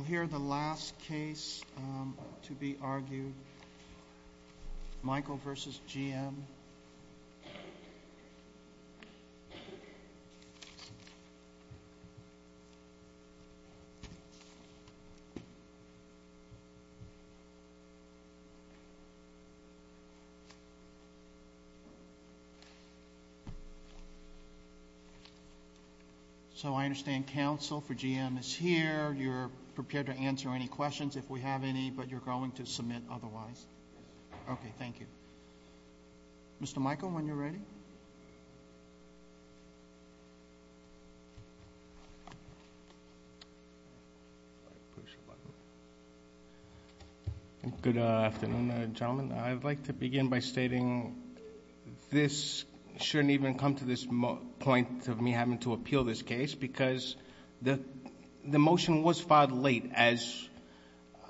We'll hear the last case to be argued, Michael v. GM. So I understand counsel for GM is here. You're prepared to answer any questions if we have any, but you're going to submit otherwise? Okay, thank you. Mr. Michael, when you're ready. Michael v. GM Good afternoon, gentlemen. I'd like to begin by stating this shouldn't even come to this point of me having to appeal this case because the motion was filed late as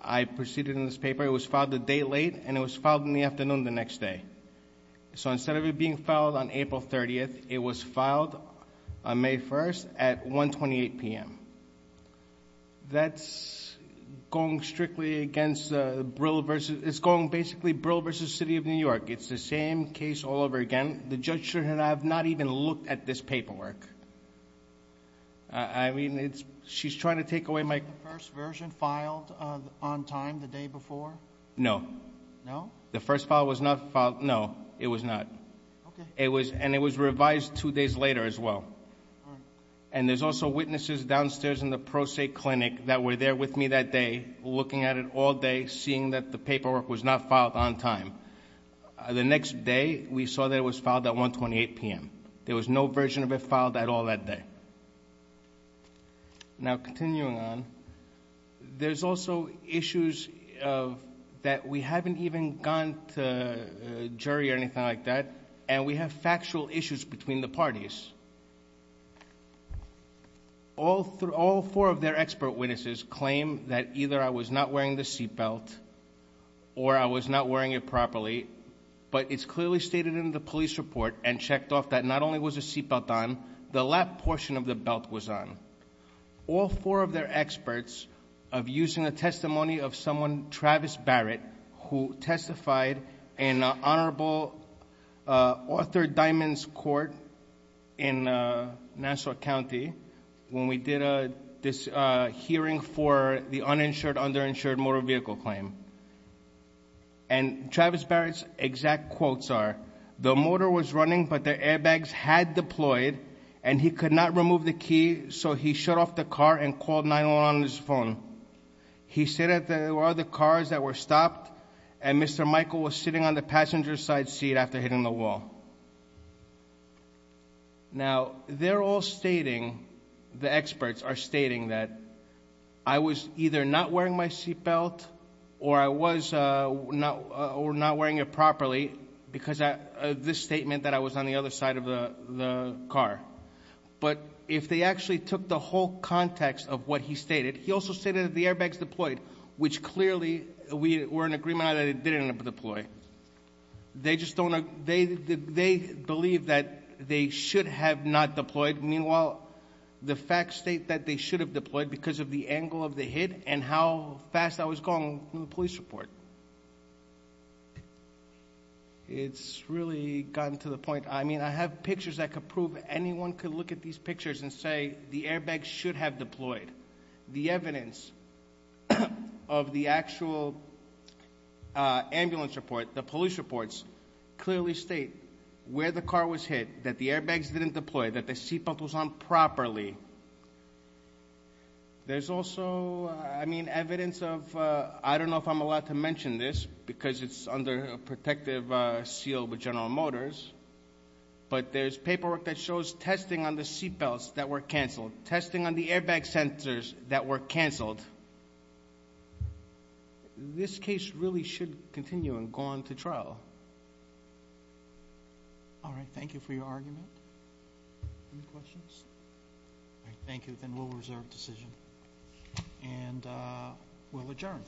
I proceeded in this paper. It was filed a day late and it was filed in the afternoon the next day. So instead of it being filed on April 30th, it was filed on May 1st at 1.28 p.m. That's going strictly against, it's going basically Brill v. City of New York. It's the same case all over again. The judge should have not even looked at this paperwork. I mean, it's, she's trying to take away my- The first version filed on time the day before? No. No? The first file was not filed. No, it was not. Okay. It was, and it was revised two days later as well. And there's also witnesses downstairs in the Pro Se clinic that were there with me that day, looking at it all day, seeing that the paperwork was not filed on time. The next day we saw that it was filed at 1.28 p.m. There was no version of it filed at all that day. Now, continuing on, there's also issues of that we haven't even gone to a jury or anything like that, and we have factual issues between the parties. All four of their expert witnesses claim that either I was not wearing the seatbelt or I was not wearing it properly, but it's clearly stated in the police report and checked off that not only was the seatbelt on, the lap portion of the belt was on. All four of their experts have used the testimony of someone, Travis Barrett, who testified in Honorable Arthur Diamond's court in Nassau County when we did this hearing for the uninsured, underinsured motor vehicle claim. And Travis Barrett's exact quotes are, the motor was running, but the airbags had deployed, and he could not remove the key, so he shut off the car and called 911 on his phone. He said that there were other cars that were stopped, and Mr. Michael was sitting on the passenger side seat after hitting the wall. Now, they're all stating, the experts are stating that I was either not wearing my seatbelt or I was not wearing it properly because of this statement that I was on the other side of the car. But if they actually took the whole context of what he stated, he also stated that the airbags deployed, which clearly we were in agreement on that it didn't deploy. They just don't, they believe that they should have not deployed. Meanwhile, the facts state that they should have deployed because of the angle of the hit and how fast I was going from the police report. It's really gotten to the point, I mean, I have pictures that could prove, anyone could look at these pictures and say the airbags should have deployed. The evidence of the actual ambulance report, the police reports, clearly state where the car was hit, that the airbags didn't deploy, that the seatbelt was on properly. There's also, I mean, evidence of, I don't know if I'm allowed to mention this because it's under protective seal with General Motors, but there's paperwork that shows testing on the seatbelts that were canceled, testing on the airbag sensors that were canceled. This case really should continue and go on to trial. All right. Thank you for your argument. Any questions? All right. Thank you. Then we'll reserve decision and we'll adjourn.